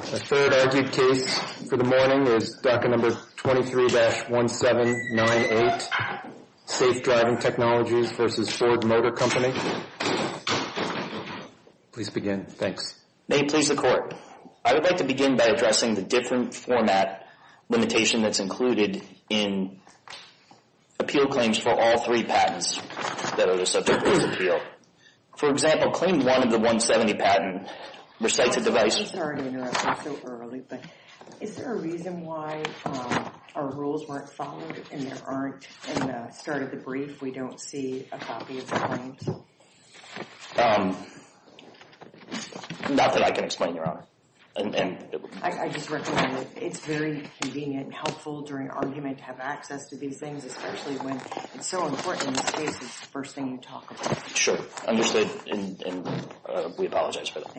May it please the Court, I would like to begin by addressing the different format limitation that's included in appeal claims for all three patents that are subject to this appeal. For example, claim one of the 170 patent recites a device I'm sorry to interrupt you so early, but is there a reason why our rules weren't followed and there aren't, in the start of the brief, we don't see a copy of the claims? Not that I can explain, Your Honor. I just recommend that it's very convenient and helpful during argument to have access to these things, especially when it's so important in this case, it's the first thing you talk about. Sure, understood and we apologize for that.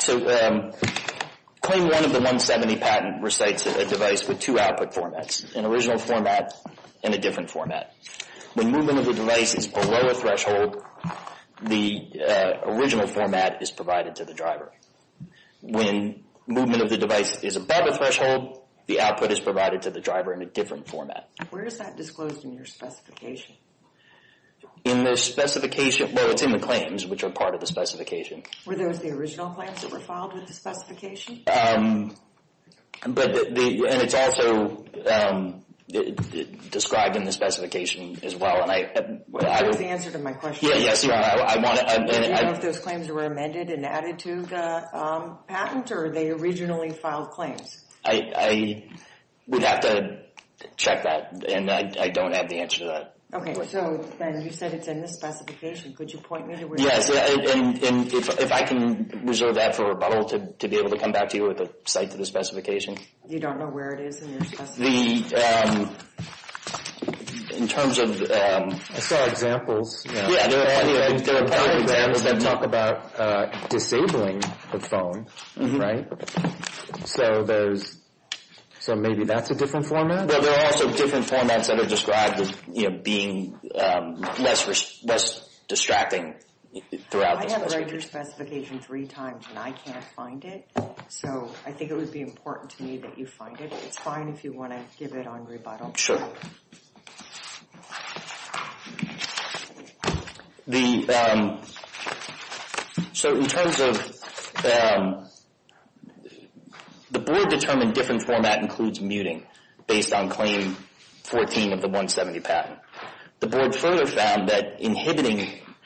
So claim one of the 170 patent recites a device with two output formats, an original format and a different format. When movement of the device is below a threshold, the original format is provided to the driver. When movement of the device is above a threshold, the output is provided to the driver in a different format. Where is that disclosed in your specification? In the specification, well, it's in the claims, which are part of the specification. Were those the original claims that were filed with the specification? But it's also described in the specification as well and I... That's the answer to my question. Yes, Your Honor, I want to... Do you know if those claims were amended and added to the patent or they originally filed claims? I would have to check that and I don't have the answer to that. Okay, so then you said it's in the specification. Could you point me to where it is? Yes, and if I can reserve that for rebuttal to be able to come back to you with a cite to the specification. You don't know where it is in your specification? The... In terms of... I saw examples. Yeah, there are a couple of examples that talk about disabling the phone, right? So there's... So maybe that's a different format? There are also different formats that are described as being less distracting throughout the... I have read your specification three times and I can't find it. So I think it would be important to me that you find it. It's fine if you want to give it on rebuttal. The... So in terms of... The board determined different format includes muting based on Claim 14 of the 170 patent. The board further found that inhibiting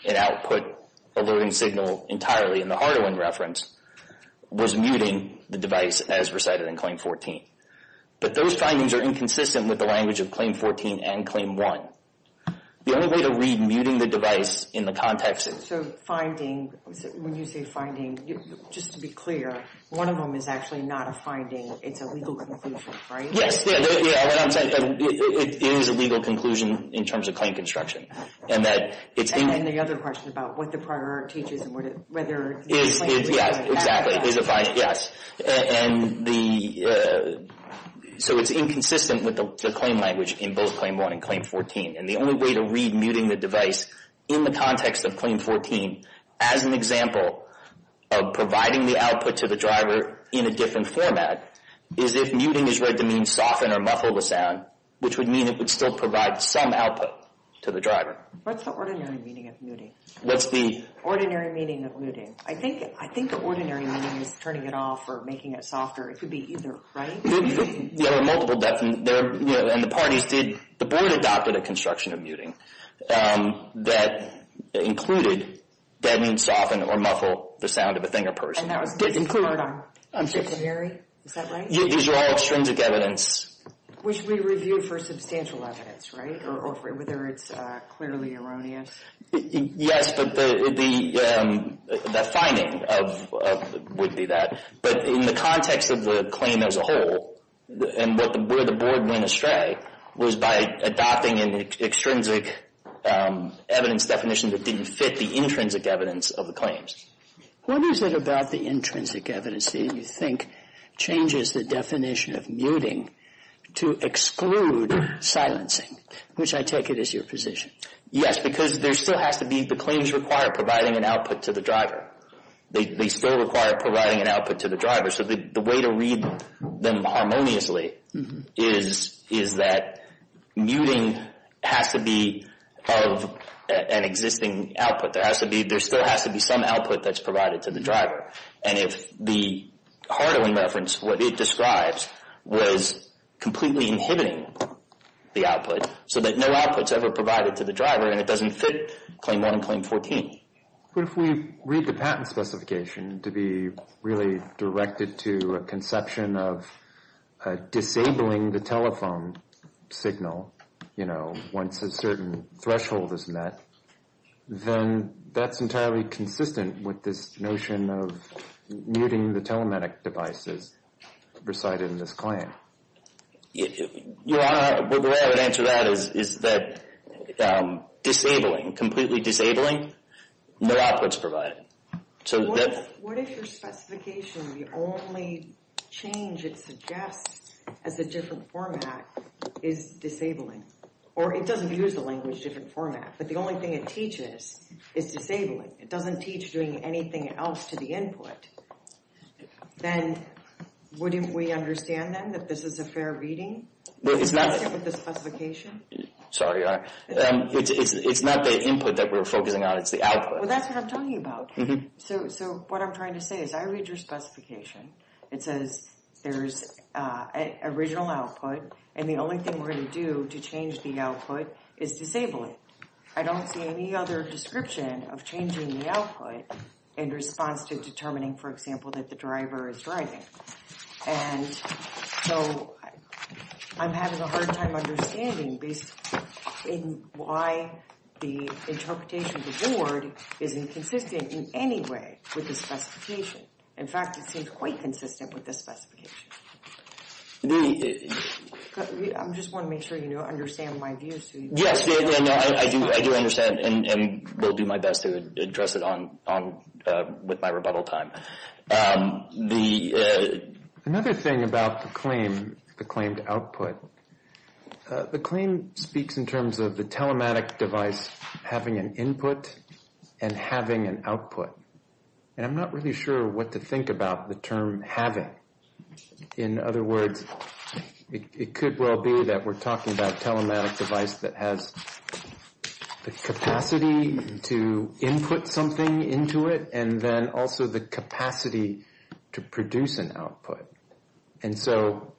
an output alerting signal entirely in the Hardawin reference was muting the device as recited in Claim 14. But those findings are inconsistent with the language of Claim 14 and Claim 1. The only way to read muting the device in the context of... When you say finding, just to be clear, one of them is actually not a finding. It's a legal conclusion, right? Yes. It is a legal conclusion in terms of claim construction. And that it's... And then the other question about what the priority is and whether... Exactly. Yes. And the... So it's inconsistent with the claim language in both Claim 1 and Claim 14. And the only way to read muting the device in the context of Claim 14 as an example of providing the output to the driver in a different format is if muting is read to mean soften or muffle the sound, which would mean it would still provide some output to the driver. What's the ordinary meaning of muting? What's the... Ordinary meaning of muting. I think the ordinary meaning is turning it off or making it softer. It could be either, right? There are multiple... And the parties did... The board adopted a construction of muting that included that means soften or muffle the sound of a thing or person. And that was disincluded on dictionary? Is that right? These are all extrinsic evidence. Which we review for substantial evidence, right? Whether it's clearly erroneous. Yes, but the finding would be that. But in the context of the claim as a whole and where the board went astray was by adopting an extrinsic evidence definition that didn't fit the intrinsic evidence of the claims. What is it about the intrinsic evidence that you think changes the definition of muting to exclude silencing, which I take it is your position? Yes, because there still has to be... The claims require providing an output to the driver. They still require providing an output to the driver. So the way to read them harmoniously is that muting has to be of an existing output. There still has to be some output that's provided to the driver. And if the Hardo in reference, what it describes, was completely inhibiting the output so that no output's ever provided to the driver and it doesn't fit Claim 1 and Claim 14. But if we read the patent specification to be really directed to a conception of disabling the telephone signal, you know, once a certain threshold is met, then that's entirely consistent with this notion of muting the telematic devices presided in this claim. The way I would answer that is that disabling, completely disabling, no output's provided. So that... What if your specification, the only change it suggests as a different format is disabling? Or it doesn't use the language different format, but the only thing it teaches is disabling. It doesn't teach doing anything else to the input. Then wouldn't we understand then that this is a fair reading? It's not... With the specification? Sorry. It's not the input that we're focusing on. It's the output. Well, that's what I'm talking about. So what I'm trying to say is I read your specification. It says there's original output and the only thing we're going to do to change the output is disable it. I don't see any other description of changing the output in response to determining, for example, that the driver is driving. And so I'm having a hard time understanding based on why the interpretation of the board isn't consistent in any way with the specification. In fact, it seems quite consistent with the specification. I just want to make sure you understand my views. Yes. I do understand and will do my best to address it with my rebuttal time. The... Another thing about the claim, the claim to output, the claim speaks in terms of the telematic device having an input and having an output. And I'm not really sure what to think about the term having. In other words, it could well be that we're talking about a telematic device that has the capacity to input something into it and then also the capacity to produce an output. And so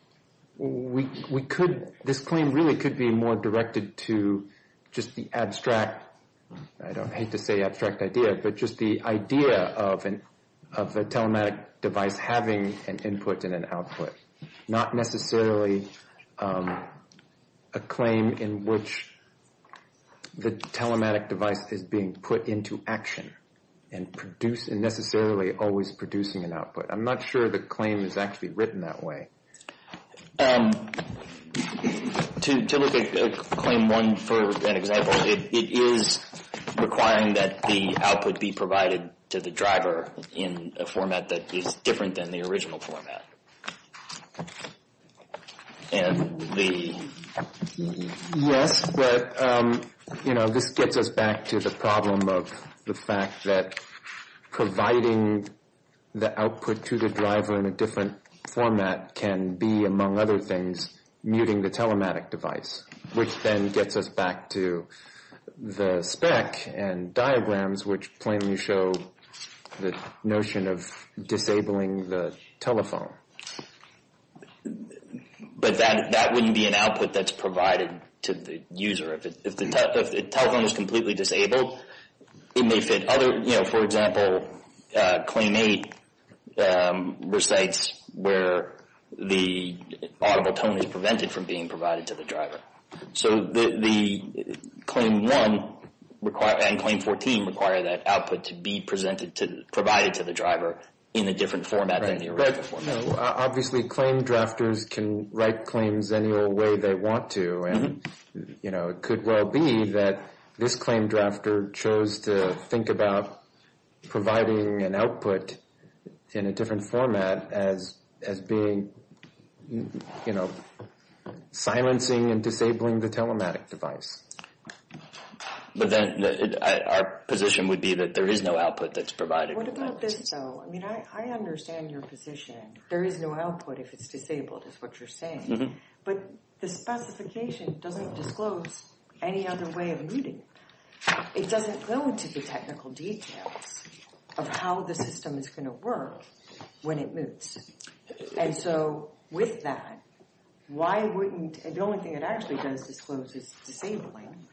we could... This claim really could be more directed to just the abstract... I don't hate to say abstract idea, but just the idea of a telematic device having an input and an output, not necessarily a claim in which the telematic device is being put into action and necessarily always producing an output. I'm not sure the claim is actually written that way. To look at claim one for an example, it is requiring that the output be provided to the driver in a format that is different than the original format. And the... Yes, but this gets us back to the problem of the fact that providing the output to the driver in a different format can be, among other things, muting the telematic device, which then gets us back to the spec and diagrams, which plainly show the notion of disabling the telephone. But that wouldn't be an output that's provided to the user. If the telephone is completely disabled, it may fit other... For example, claim eight recites where the audible tone is prevented from being provided to the driver. So the claim one and claim 14 require that output to be provided to the driver in a different format than the original format. No, obviously claim drafters can write claims any old way they want to. And, you know, it could well be that this claim drafter chose to think about providing an output in a different format as being, you know, silencing and disabling the telematic device. But then our position would be that there is no output that's provided. What about this, though? I mean, I understand your position. There is no output if it's disabled, is what you're saying. But the specification doesn't disclose any other way of muting. It doesn't go into the technical details of how the system is going to work when it mutes. And so with that, why wouldn't... The only thing it actually does disclose is disabling.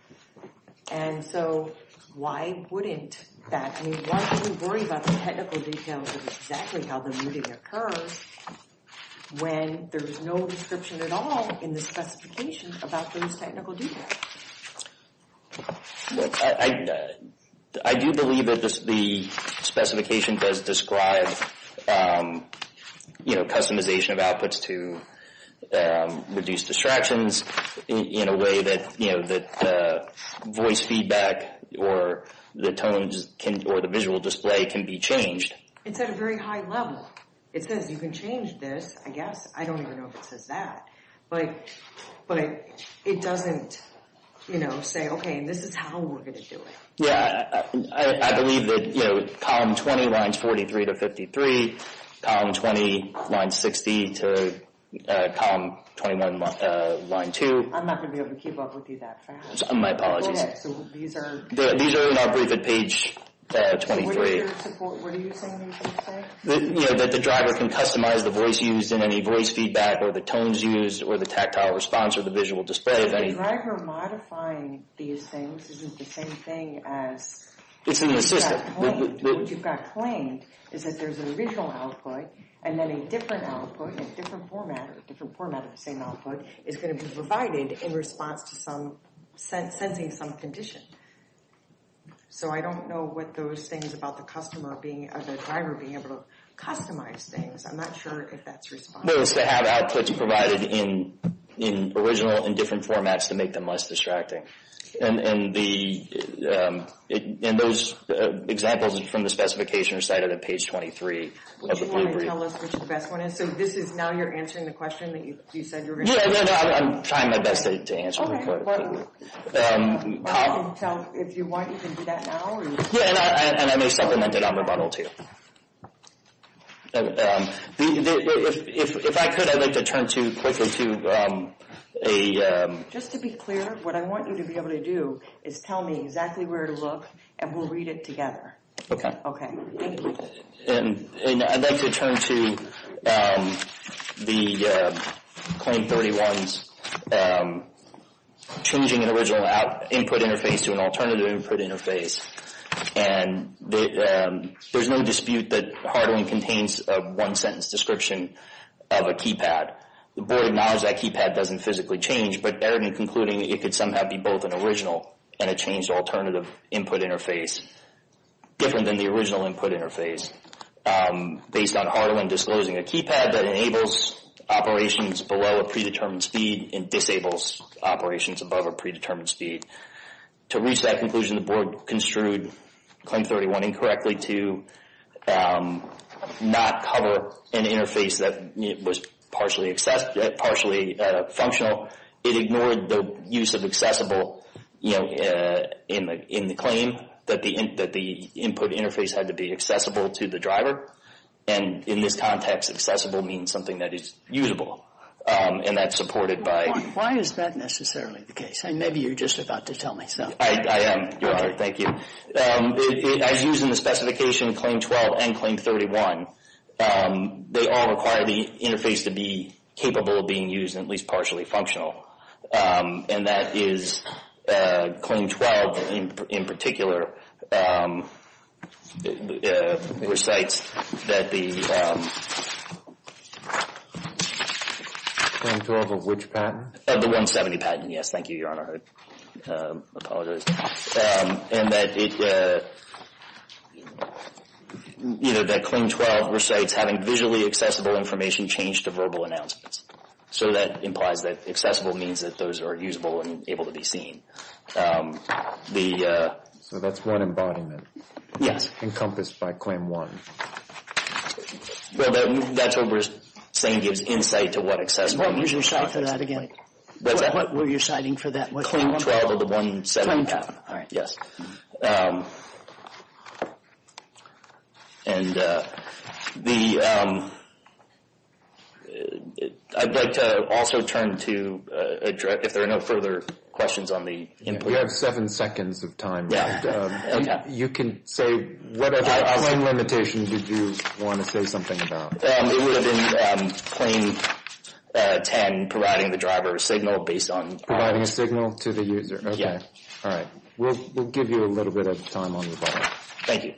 And so why wouldn't that... And why do we worry about the technical details of exactly how the muting occurs when there is no description at all in the specification about those technical details? I do believe that the specification does describe, you know, customization of outputs to reduce distractions in a way that, you know, that voice feedback or the tones or the visual display can be changed. It's at a very high level. It says you can change this, I guess. I don't even know if it says that. But it doesn't, you know, say, okay, this is how we're going to do it. Yeah, I believe that, you know, column 20, lines 43 to 53, column 20, line 60 to column 21, line 2. I'm not going to be able to keep up with you that fast. My apologies. Yeah, so these are... These are in our brief at page 23. What are you saying these things say? You know, that the driver can customize the voice used in any voice feedback or the tones used or the tactile response or the visual display of any... The driver modifying these things isn't the same thing as... It's in the system. What you've got claimed is that there's an original output and then a different output in a different format, or a different format of the same output is going to be provided in response to some... sensing some condition. So I don't know what those things about the customer being... or the driver being able to customize things. I'm not sure if that's responsible. No, it's to have outputs provided in original and different formats to make them less distracting. And the... And those examples from the specification are cited at page 23. Would you want to tell us which the best one is? So this is now you're answering the question that you said you were going to... No, no, no. I'm trying my best to answer. So if you want, you can do that now? Yeah, and I may supplement it on rebuttal too. If I could, I'd like to turn to quickly to a... Just to be clear, what I want you to be able to do is tell me exactly where to look and we'll read it together. Okay. Okay. And I'd like to turn to the... Claim 31's... changing an original input interface to an alternative input interface. And there's no dispute that hardening contains a one-sentence description of a keypad. The board acknowledges that keypad doesn't physically change, but they're concluding it could somehow be both an original and a changed alternative input interface. Different than the original input interface. Based on Hardaway disclosing a keypad that enables operations below a predetermined speed and disables operations above a predetermined speed. To reach that conclusion, the board construed Claim 31 incorrectly to not cover an interface that was partially functional. It ignored the use of accessible in the claim that the input interface had to be accessible to the driver. And in this context, accessible means something that is usable. And that's supported by... Why is that necessarily the case? Maybe you're just about to tell me something. I am, Your Honor. Thank you. As used in the specification, Claim 12 and Claim 31, they all require the interface to be capable of being used and at least partially functional. And that is Claim 12 in particular recites that the... Claim 12 of which patent? The 170 patent, yes. Thank you, Your Honor. Apologize. And that it... You know, that Claim 12 recites having visually accessible information change to verbal announcements. So that implies that accessible means that those are usable and able to be seen. So that's one embodiment. Yes. Encompassed by Claim 1. That's what we're saying gives insight to what accessible means. What were you citing for that again? What were you citing for that? Claim 12 of the 170 patent. And the... I'd like to also turn to... If there are no further questions on the... You have seven seconds of time. You can say whatever... What limitations did you want to say something about? It would have been Claim 10 providing the driver signal based on... Providing a signal to the user. Yeah. All right. We'll give you a little bit of time on your part. Thank you.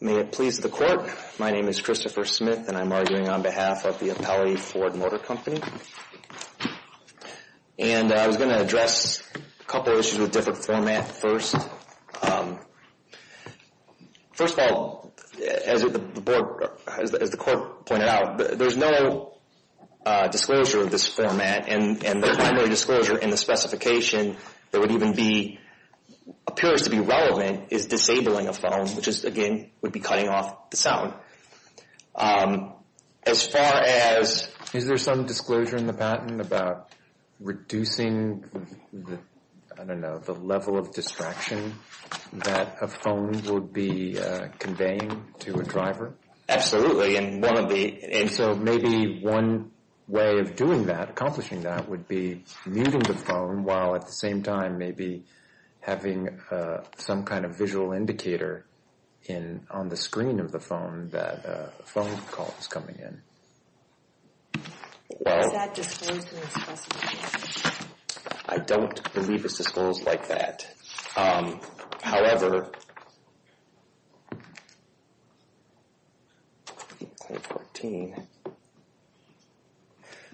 May it please the court. My name is Christopher Smith and I'm arguing on behalf of the Appellee Ford Motor Company. And I was going to address a couple of issues with different format first. As the court pointed out, there's no disclosure of this format. And the primary disclosure in the specification that would even be... appears to be relevant is disabling a phone, which is, again, would be cutting off the sound. As far as... Is there some disclosure in the patent about reducing the... I don't know, the level of distraction that a phone would be conveying to a driver? Absolutely. And one of the... And so maybe one way of doing that, accomplishing that, would be muting the phone while at the same time maybe having some kind of visual indicator on the screen of the phone that a phone call is coming in. Is that disclosed in the specification? I don't believe it's disclosed like that. However... Claim 14.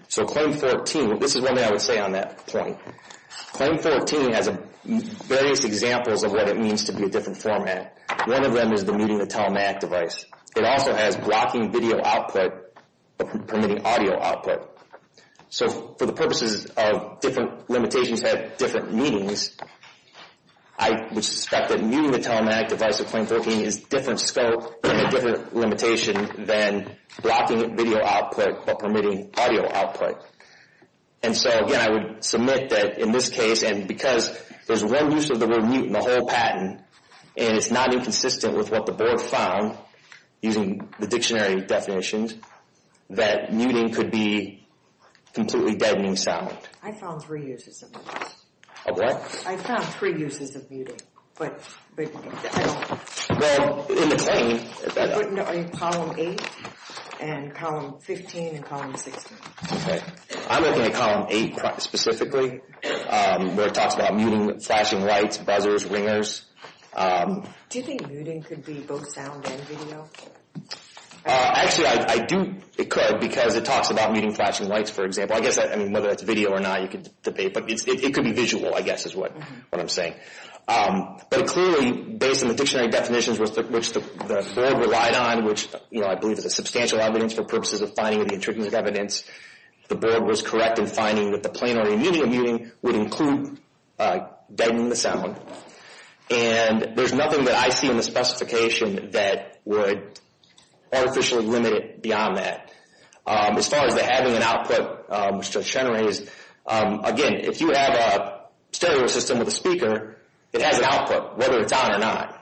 So Claim 14, this is one thing I would say on that point. Claim 14 has various examples of what it means to be a different format. One of them is the muting a telematic device. It also has blocking video output permitting audio output. So for the purposes of different limitations at different meetings, I would suspect that muting the telematic device of Claim 14 is different scope and a different limitation than blocking video output but permitting audio output. And so again, I would submit that in this case, and because there's one use of the word mute in the whole patent, and it's not inconsistent with what the board found using the dictionary definitions, that muting could be completely deadening sound. I found three uses of it. Of what? I found three uses of muting, but I don't... Well, in the claim... But in Column 8, and Column 15, and Column 16. Okay. I'm looking at Column 8 specifically where it talks about muting flashing lights, buzzers, ringers. Do you think muting could be both sound and video? Actually, I do. It could because it talks about muting flashing lights, for example. I guess whether it's video or not, you could debate, but it could be visual, I guess, is what I'm saying. But clearly, based on the dictionary definitions which the board relied on, which, you know, I believe is a substantial evidence for purposes of finding the intricate evidence, the board was correct in finding that the planar immunity of muting would include deadening the sound. And there's nothing that I see in the specification that would artificially limit it beyond that. As far as the having an output, which Judge Chenerey is... Again, if you have a stereo system with a speaker, it has an output, whether it's on or not.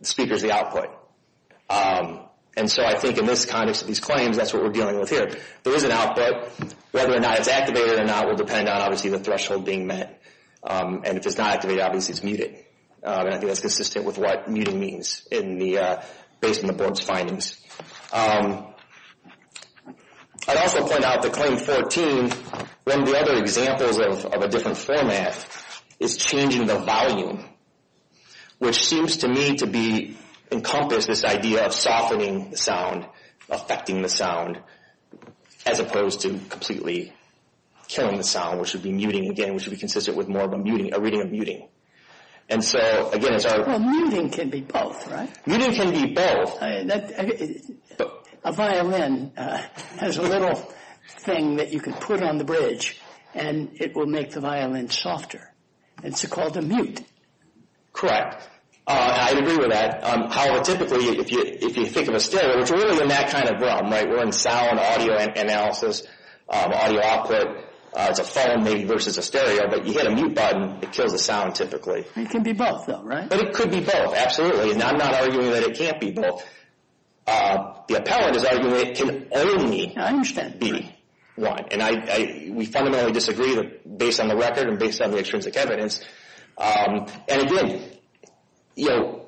The speaker is the output. And so I think in this context of these claims, that's what we're dealing with here. There is an output. Whether or not it's activated or not will depend on, obviously, the threshold being met. And if it's not activated, obviously it's muted. And I think that's consistent with what muting means based on the board's findings. I'd also point out that Claim 14, one of the other examples of a different format, is changing the volume, which seems to me to encompass this idea of softening the sound, affecting the sound, as opposed to completely killing the sound, which would be muting again, which would be consistent with more of a reading of muting. And so, again, as our... Well, muting can be both, right? Muting can be both. A violin has a little thing that you can put on the bridge and it will make the violin softer. It's called a mute. Correct. I agree with that. However, typically, if you think of a stereo, it's really in that kind of realm, right? We're in sound, audio analysis, audio output. It's a phone, maybe, versus a stereo. But you hit a mute button, it kills the sound, typically. It can be both, though, right? But it could be both, absolutely. And I'm not arguing that it can't be both. The appellant is arguing that it can only be one. And we fundamentally disagree based on the record and based on the extrinsic evidence. And again, you know,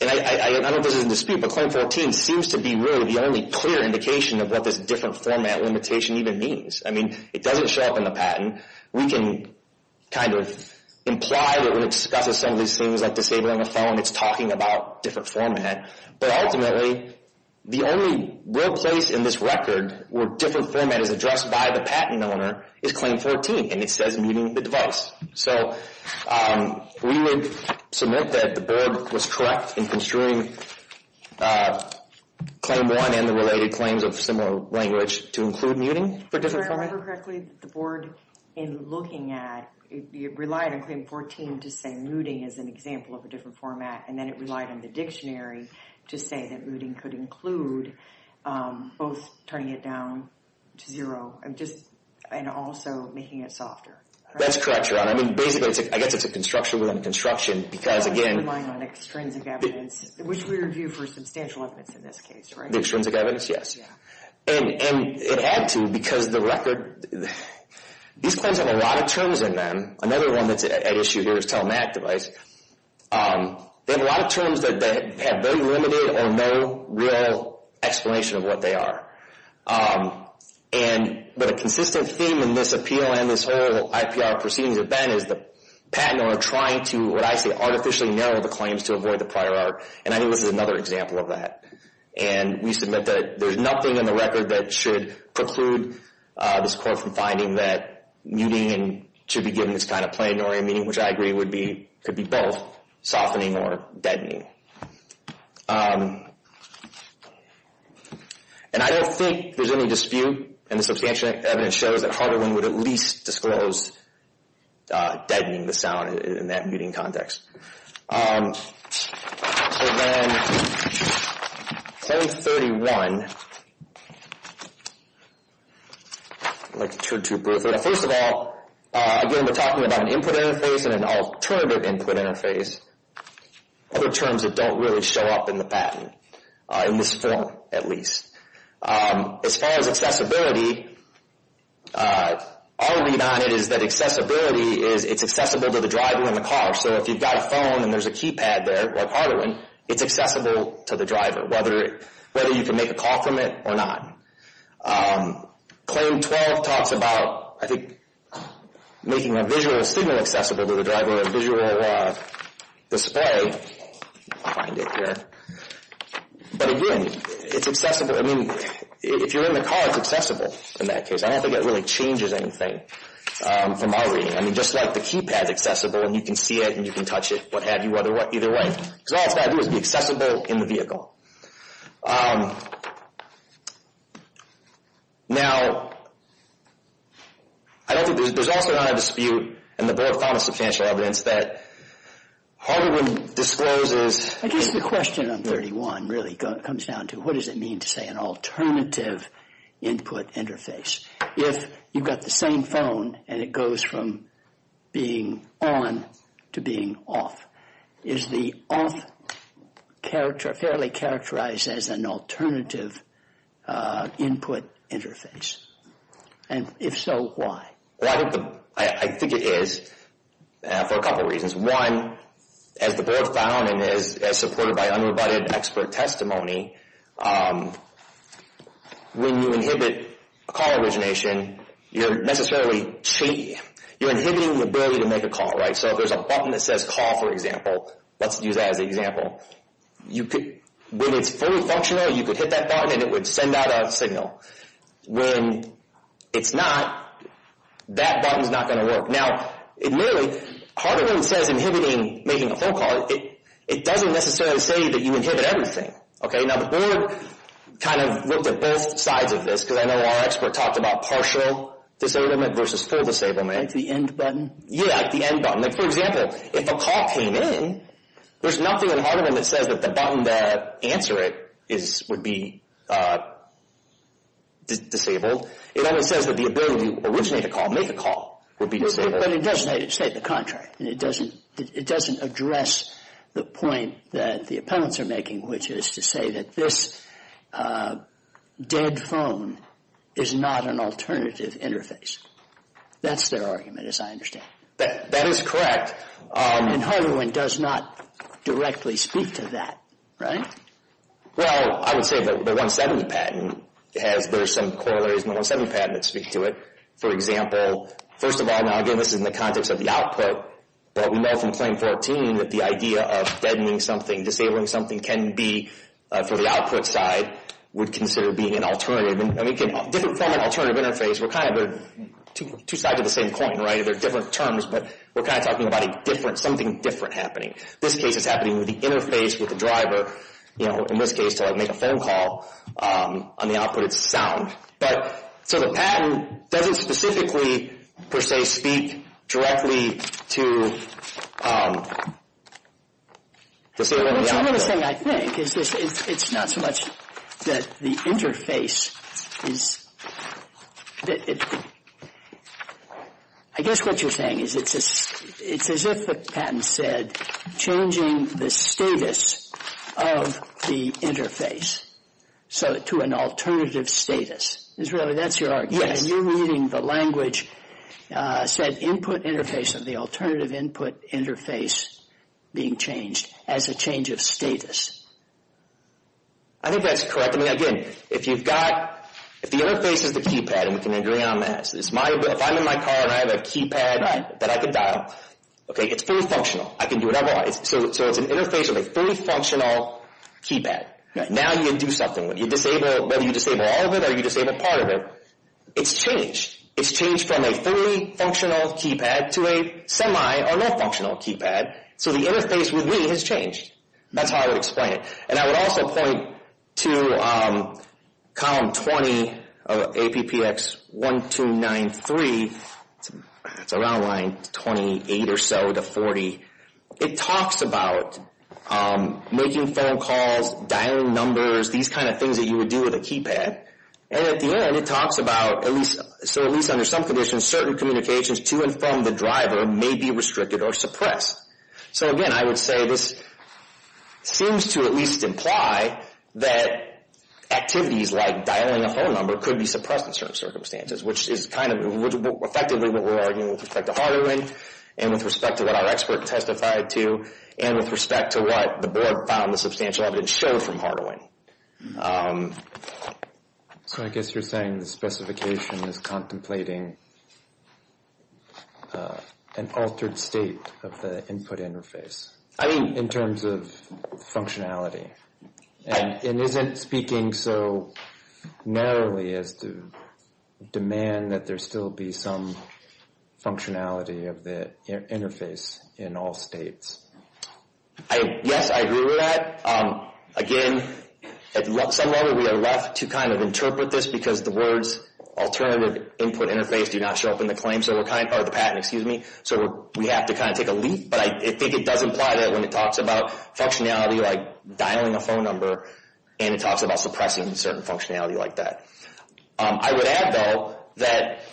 and I know this is a dispute, but claim 14 seems to be really the only clear indication of what this different format limitation even means. I mean, it doesn't show up in the patent. We can kind of imply that we're discussing some of these things like disabling a phone. It's talking about different format. But ultimately, the only real place in this record where different format is addressed by the patent owner is claim 14, and it says muting the device. So we would submit that the board was correct in construing claim one and the related claims of similar language to include muting for different format. Did I remember correctly that the board, in looking at, it relied on claim 14 to say muting is an example of a different format, and then it relied on the dictionary to say that muting could include both turning it down to zero and also making it softer? That's correct, Your Honor. I mean, basically, I guess it's a construction within a construction because, again... I'm just relying on extrinsic evidence, which we review for substantial evidence in this case, right? Extrinsic evidence, yes. And it had to because the record... These claims have a lot of terms in them. Another one that's at issue here is telematic device. They have a lot of terms that have very limited or no real explanation of what they are. But a consistent theme in this appeal and this whole IPR proceedings event is the patent owner trying to, what I say, artificially narrow the claims to avoid the prior art, and I think this is another example of that. And we submit that there's nothing in the record that should preclude this court from finding that muting should be given this kind of plain-oriented meaning, which I agree could be both softening or deadening. And I don't think there's any dispute and the substantial evidence shows that Hardaway would at least disclose deadening, the sound, in that muting context. So then Claim 31. I'd like to turn to Bertha. First of all, again, we're talking about an input interface and an alternative input interface, other terms that don't really show up in the patent, in this form, at least. As far as accessibility, our read on it is that accessibility is it's accessible to the driver and the car. So if you've got a phone and there's a keypad there, like Hardaway, it's accessible to the driver, whether you can make a call from it or not. Claim 12 talks about, I think, making a visual signal accessible to the driver, a visual display. I'll find it here. But again, it's accessible. I mean, if you're in the car, it's accessible in that case. I don't think it really changes anything from our reading. I mean, just like the keypad's accessible, and you can see it and you can touch it, what have you, either way. Because all it's got to do is be accessible in the vehicle. Now, I don't think there's also not a dispute, and the board found substantial evidence, that Hardaway discloses... I guess the question on 31 really comes down to what does it mean to say an alternative input interface? If you've got the same phone, and it goes from being on to being off. Is the off character fairly characterized as an alternative input interface? And if so, why? Well, I think it is for a couple of reasons. One, as the board found, and as supported by unrebutted expert testimony, when you inhibit a call origination, you're necessarily... you're inhibiting the ability to make a call, right? So if there's a button that says call, for example, let's use that as an example, when it's fully functional, you could hit that button and it would send out a signal. When it's not, that button's not going to work. Now, literally, Hardaway says inhibiting making a phone call, it doesn't necessarily say that you inhibit everything. Okay, now the board kind of looked at both sides of this, because I know our expert talked about partial disablement versus full disablement. Like the end button? Yeah, like the end button. Like, for example, if a call came in, there's nothing in Hardaway that says that the button that answered it would be disabled. It only says that the ability to originate a call, make a call, would be disabled. But it doesn't state the contrary. It doesn't address the point that the opponents are making, which is to say that this dead phone is not an alternative interface. That's their argument, as I understand it. That is correct. And Hardaway does not directly speak to that, right? Well, I would say that the 170 patent has, there's some corollaries in the 170 patent that speak to it. For example, first of all, now again this is in the context of the output, but we know from claim 14 that the idea of deadening something, disabling something can be, for the output side, would consider being an alternative. Different form of alternative interface, we're kind of two sides of the same coin, right? They're different terms, but we're kind of talking about something different happening. This case is happening with the interface with the driver, in this case to make a phone call. On the output it's sound. So the patent doesn't specifically, per se, directly to disable the output. What's interesting, I think, is it's not so much that the interface is, I guess what you're saying is it's as if the patent said changing the status of the interface to an alternative status. Is that your argument? Yes. So you're reading the language, said input interface of the alternative input interface being changed as a change of status. I think that's correct. I mean, again, if you've got, if the interface is the keypad, and we can agree on that, if I'm in my car and I have a keypad that I can dial, okay, it's fully functional. I can do whatever I want. So it's an interface of a fully functional keypad. Now you can do something. Whether you disable all of it or you disable part of it, it's changed. It's changed from a fully functional keypad to a semi or no functional keypad. So the interface with me has changed. That's how I would explain it. And I would also point to column 20 of APPX1293, it's around line 28 or so to 40, it talks about making phone calls, dialing numbers, these kind of things that you would do with a keypad. And at the end it talks about, so at least under some conditions, certain communications to and from the driver may be restricted or suppressed. So, again, I would say this seems to at least imply that activities like dialing a phone number could be suppressed in certain circumstances, which is kind of effectively what we're arguing with respect to Hardaway and with respect to what our expert testified to and with respect to what the board found the substantial evidence showed from Hardaway. So I guess you're saying the specification is contemplating an altered state of the input interface. I mean in terms of functionality. And it isn't speaking so narrowly as to demand that there still be some functionality of the interface in all states. Yes, I agree with that. Again, at some level we are left to kind of interpret this because the words alternative input interface do not show up in the patent, so we have to kind of take a leap. But I think it does imply that when it talks about functionality like dialing a phone number and it talks about suppressing certain functionality like that. I would add, though, that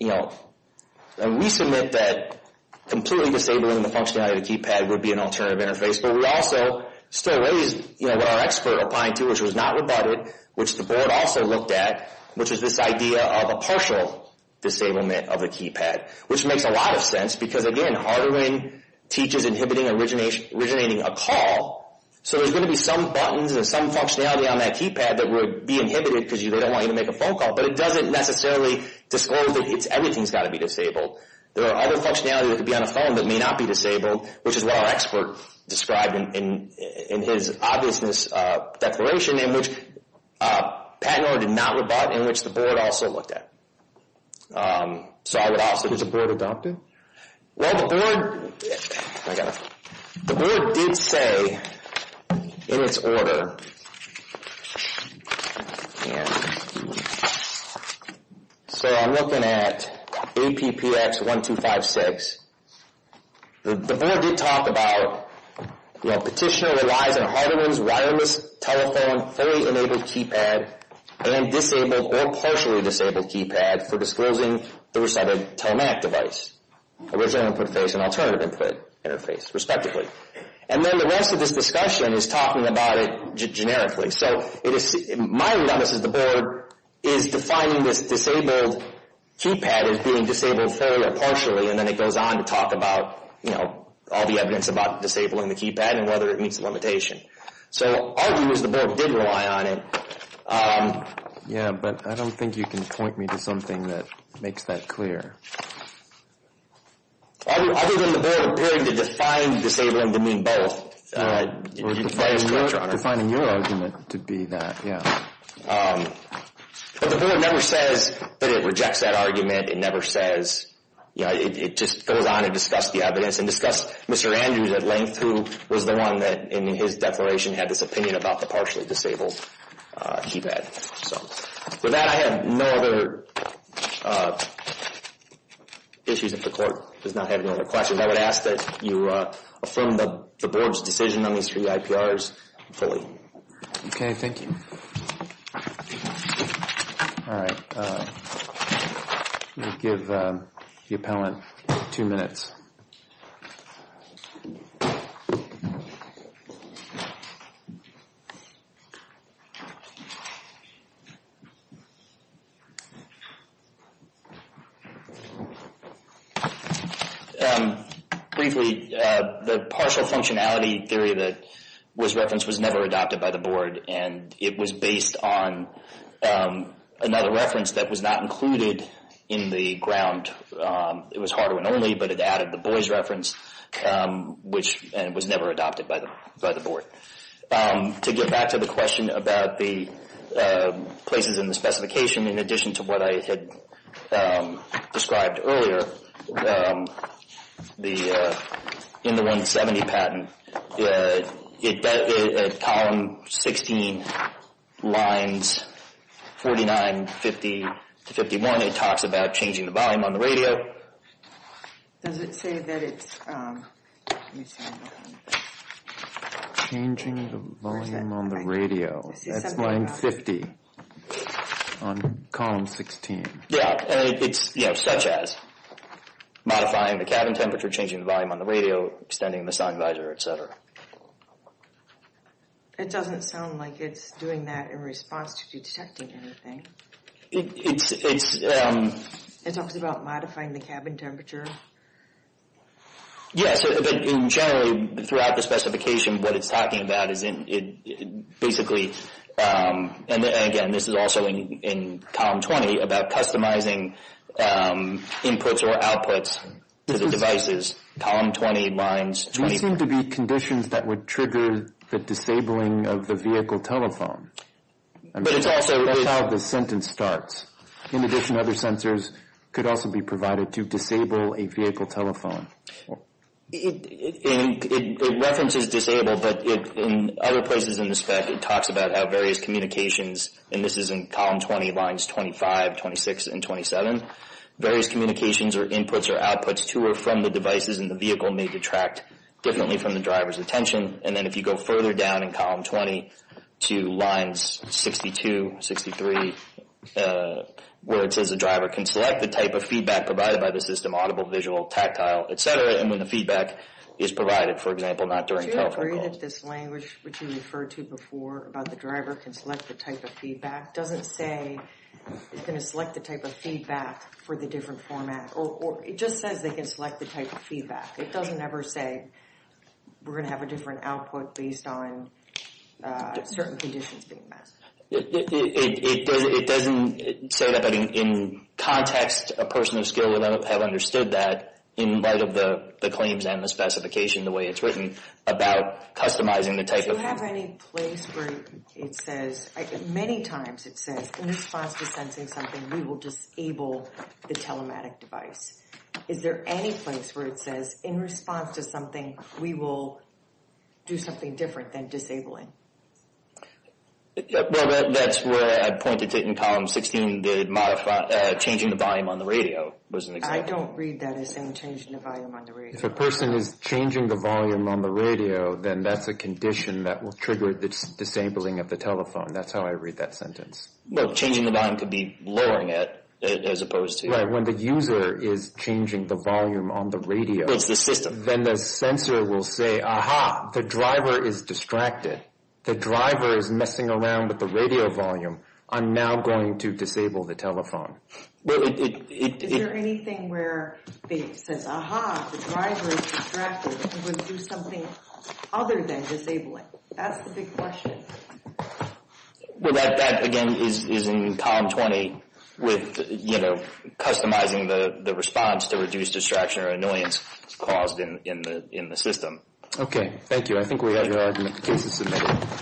we submit that completely disabling the functionality of the keypad would be an alternative interface, but we also still raise what our expert opined to which was not rebutted, which the board also looked at, which is this idea of a partial disablement of the keypad, which makes a lot of sense because, again, Hardaway teaches inhibiting originating a call. So there's going to be some buttons and some functionality on that keypad that would be inhibited because they don't want you to make a phone call, but it doesn't necessarily disclose that everything's got to be disabled. There are other functionality that could be on a phone that may not be disabled, which is what our expert described in his obviousness declaration in which patent order did not rebut, in which the board also looked at. So I would also— Was the board adopted? Well, the board—I got it. The board did say in its order, and so I'm looking at APPX1256. The board did talk about, you know, petitioner relies on Hardaway's wireless telephone fully enabled keypad and disabled or partially disabled keypad for disclosing the recited telematic device, original input face and alternative input interface, respectively. And then the rest of this discussion is talking about it generically. So my read on this is the board is defining this disabled keypad as being disabled fully or partially, and then it goes on to talk about, you know, all the evidence about disabling the keypad and whether it meets the limitation. So our view is the board did rely on it. Yeah, but I don't think you can point me to something that makes that clear. Other than the board appearing to define disabling to mean both. Defining your argument to be that, yeah. But the board never says that it rejects that argument. It never says—you know, it just goes on to discuss the evidence and discuss Mr. Andrews at length, who was the one that, in his declaration, had this opinion about the partially disabled keypad. With that, I have no other issues. If the court does not have any other questions, I would ask that you affirm the board's decision on these three IPRs fully. Okay, thank you. All right. We'll give the appellant two minutes. Briefly, the partial functionality theory that was referenced was never adopted by the board, and it was based on another reference that was not included in the ground. It was hard-won only, but it added the boys' reference, which was never adopted by the board. To get back to the question about the partial functionality theory, the places in the specification, in addition to what I had described earlier, in the 170 patent, column 16, lines 49, 50 to 51, it talks about changing the volume on the radio. Does it say that it's— Changing the volume on the radio. That's line 50 on column 16. Yeah, it's, you know, such as modifying the cabin temperature, changing the volume on the radio, extending the sun visor, etc. It doesn't sound like it's doing that in response to detecting anything. It's— It talks about modifying the cabin temperature. Yes, but generally, throughout the specification, what it's talking about is basically, and again, this is also in column 20, about customizing inputs or outputs to the devices. Column 20, lines 24. These seem to be conditions that would trigger the disabling of the vehicle telephone. But it's also— That's how the sentence starts. In addition, other sensors could also be provided to disable a vehicle telephone. It references disable, but in other places in the spec, it talks about how various communications, and this is in column 20, lines 25, 26, and 27, various communications or inputs or outputs to or from the devices in the vehicle may detract differently from the driver's attention. And then if you go further down in column 20 to lines 62, 63, where it says the driver can select the type of feedback provided by the system, audible, visual, tactile, etc., and when the feedback is provided, for example, not during telephone call. Do you agree that this language, which you referred to before, about the driver can select the type of feedback, doesn't say it's going to select the type of feedback for the different format, or it just says they can select the type of feedback. It doesn't ever say we're going to have a different output based on certain conditions being met. It doesn't say that, but in context, a person of skill would have understood that in light of the claims and the specification the way it's written about customizing the type of— Do you have any place where it says, many times it says, in response to sensing something, we will disable the telematic device. Is there any place where it says, in response to something, we will do something different than disabling? Well, that's where I pointed to in column 16, the modify—changing the volume on the radio was an example. I don't read that as saying changing the volume on the radio. If a person is changing the volume on the radio, then that's a condition that will trigger the disabling of the telephone. That's how I read that sentence. Well, changing the volume could be lowering it as opposed to— When the user is changing the volume on the radio— It's the system. Then the sensor will say, ah-ha, the driver is distracted. The driver is messing around with the radio volume. I'm now going to disable the telephone. Is there anything where it says, ah-ha, the driver is distracted, we're going to do something other than disabling? That's the big question. Well, that, again, is in column 20 with, you know, customizing the response to reduce distraction or annoyance caused in the system. Okay. Thank you. I think we have your cases submitted.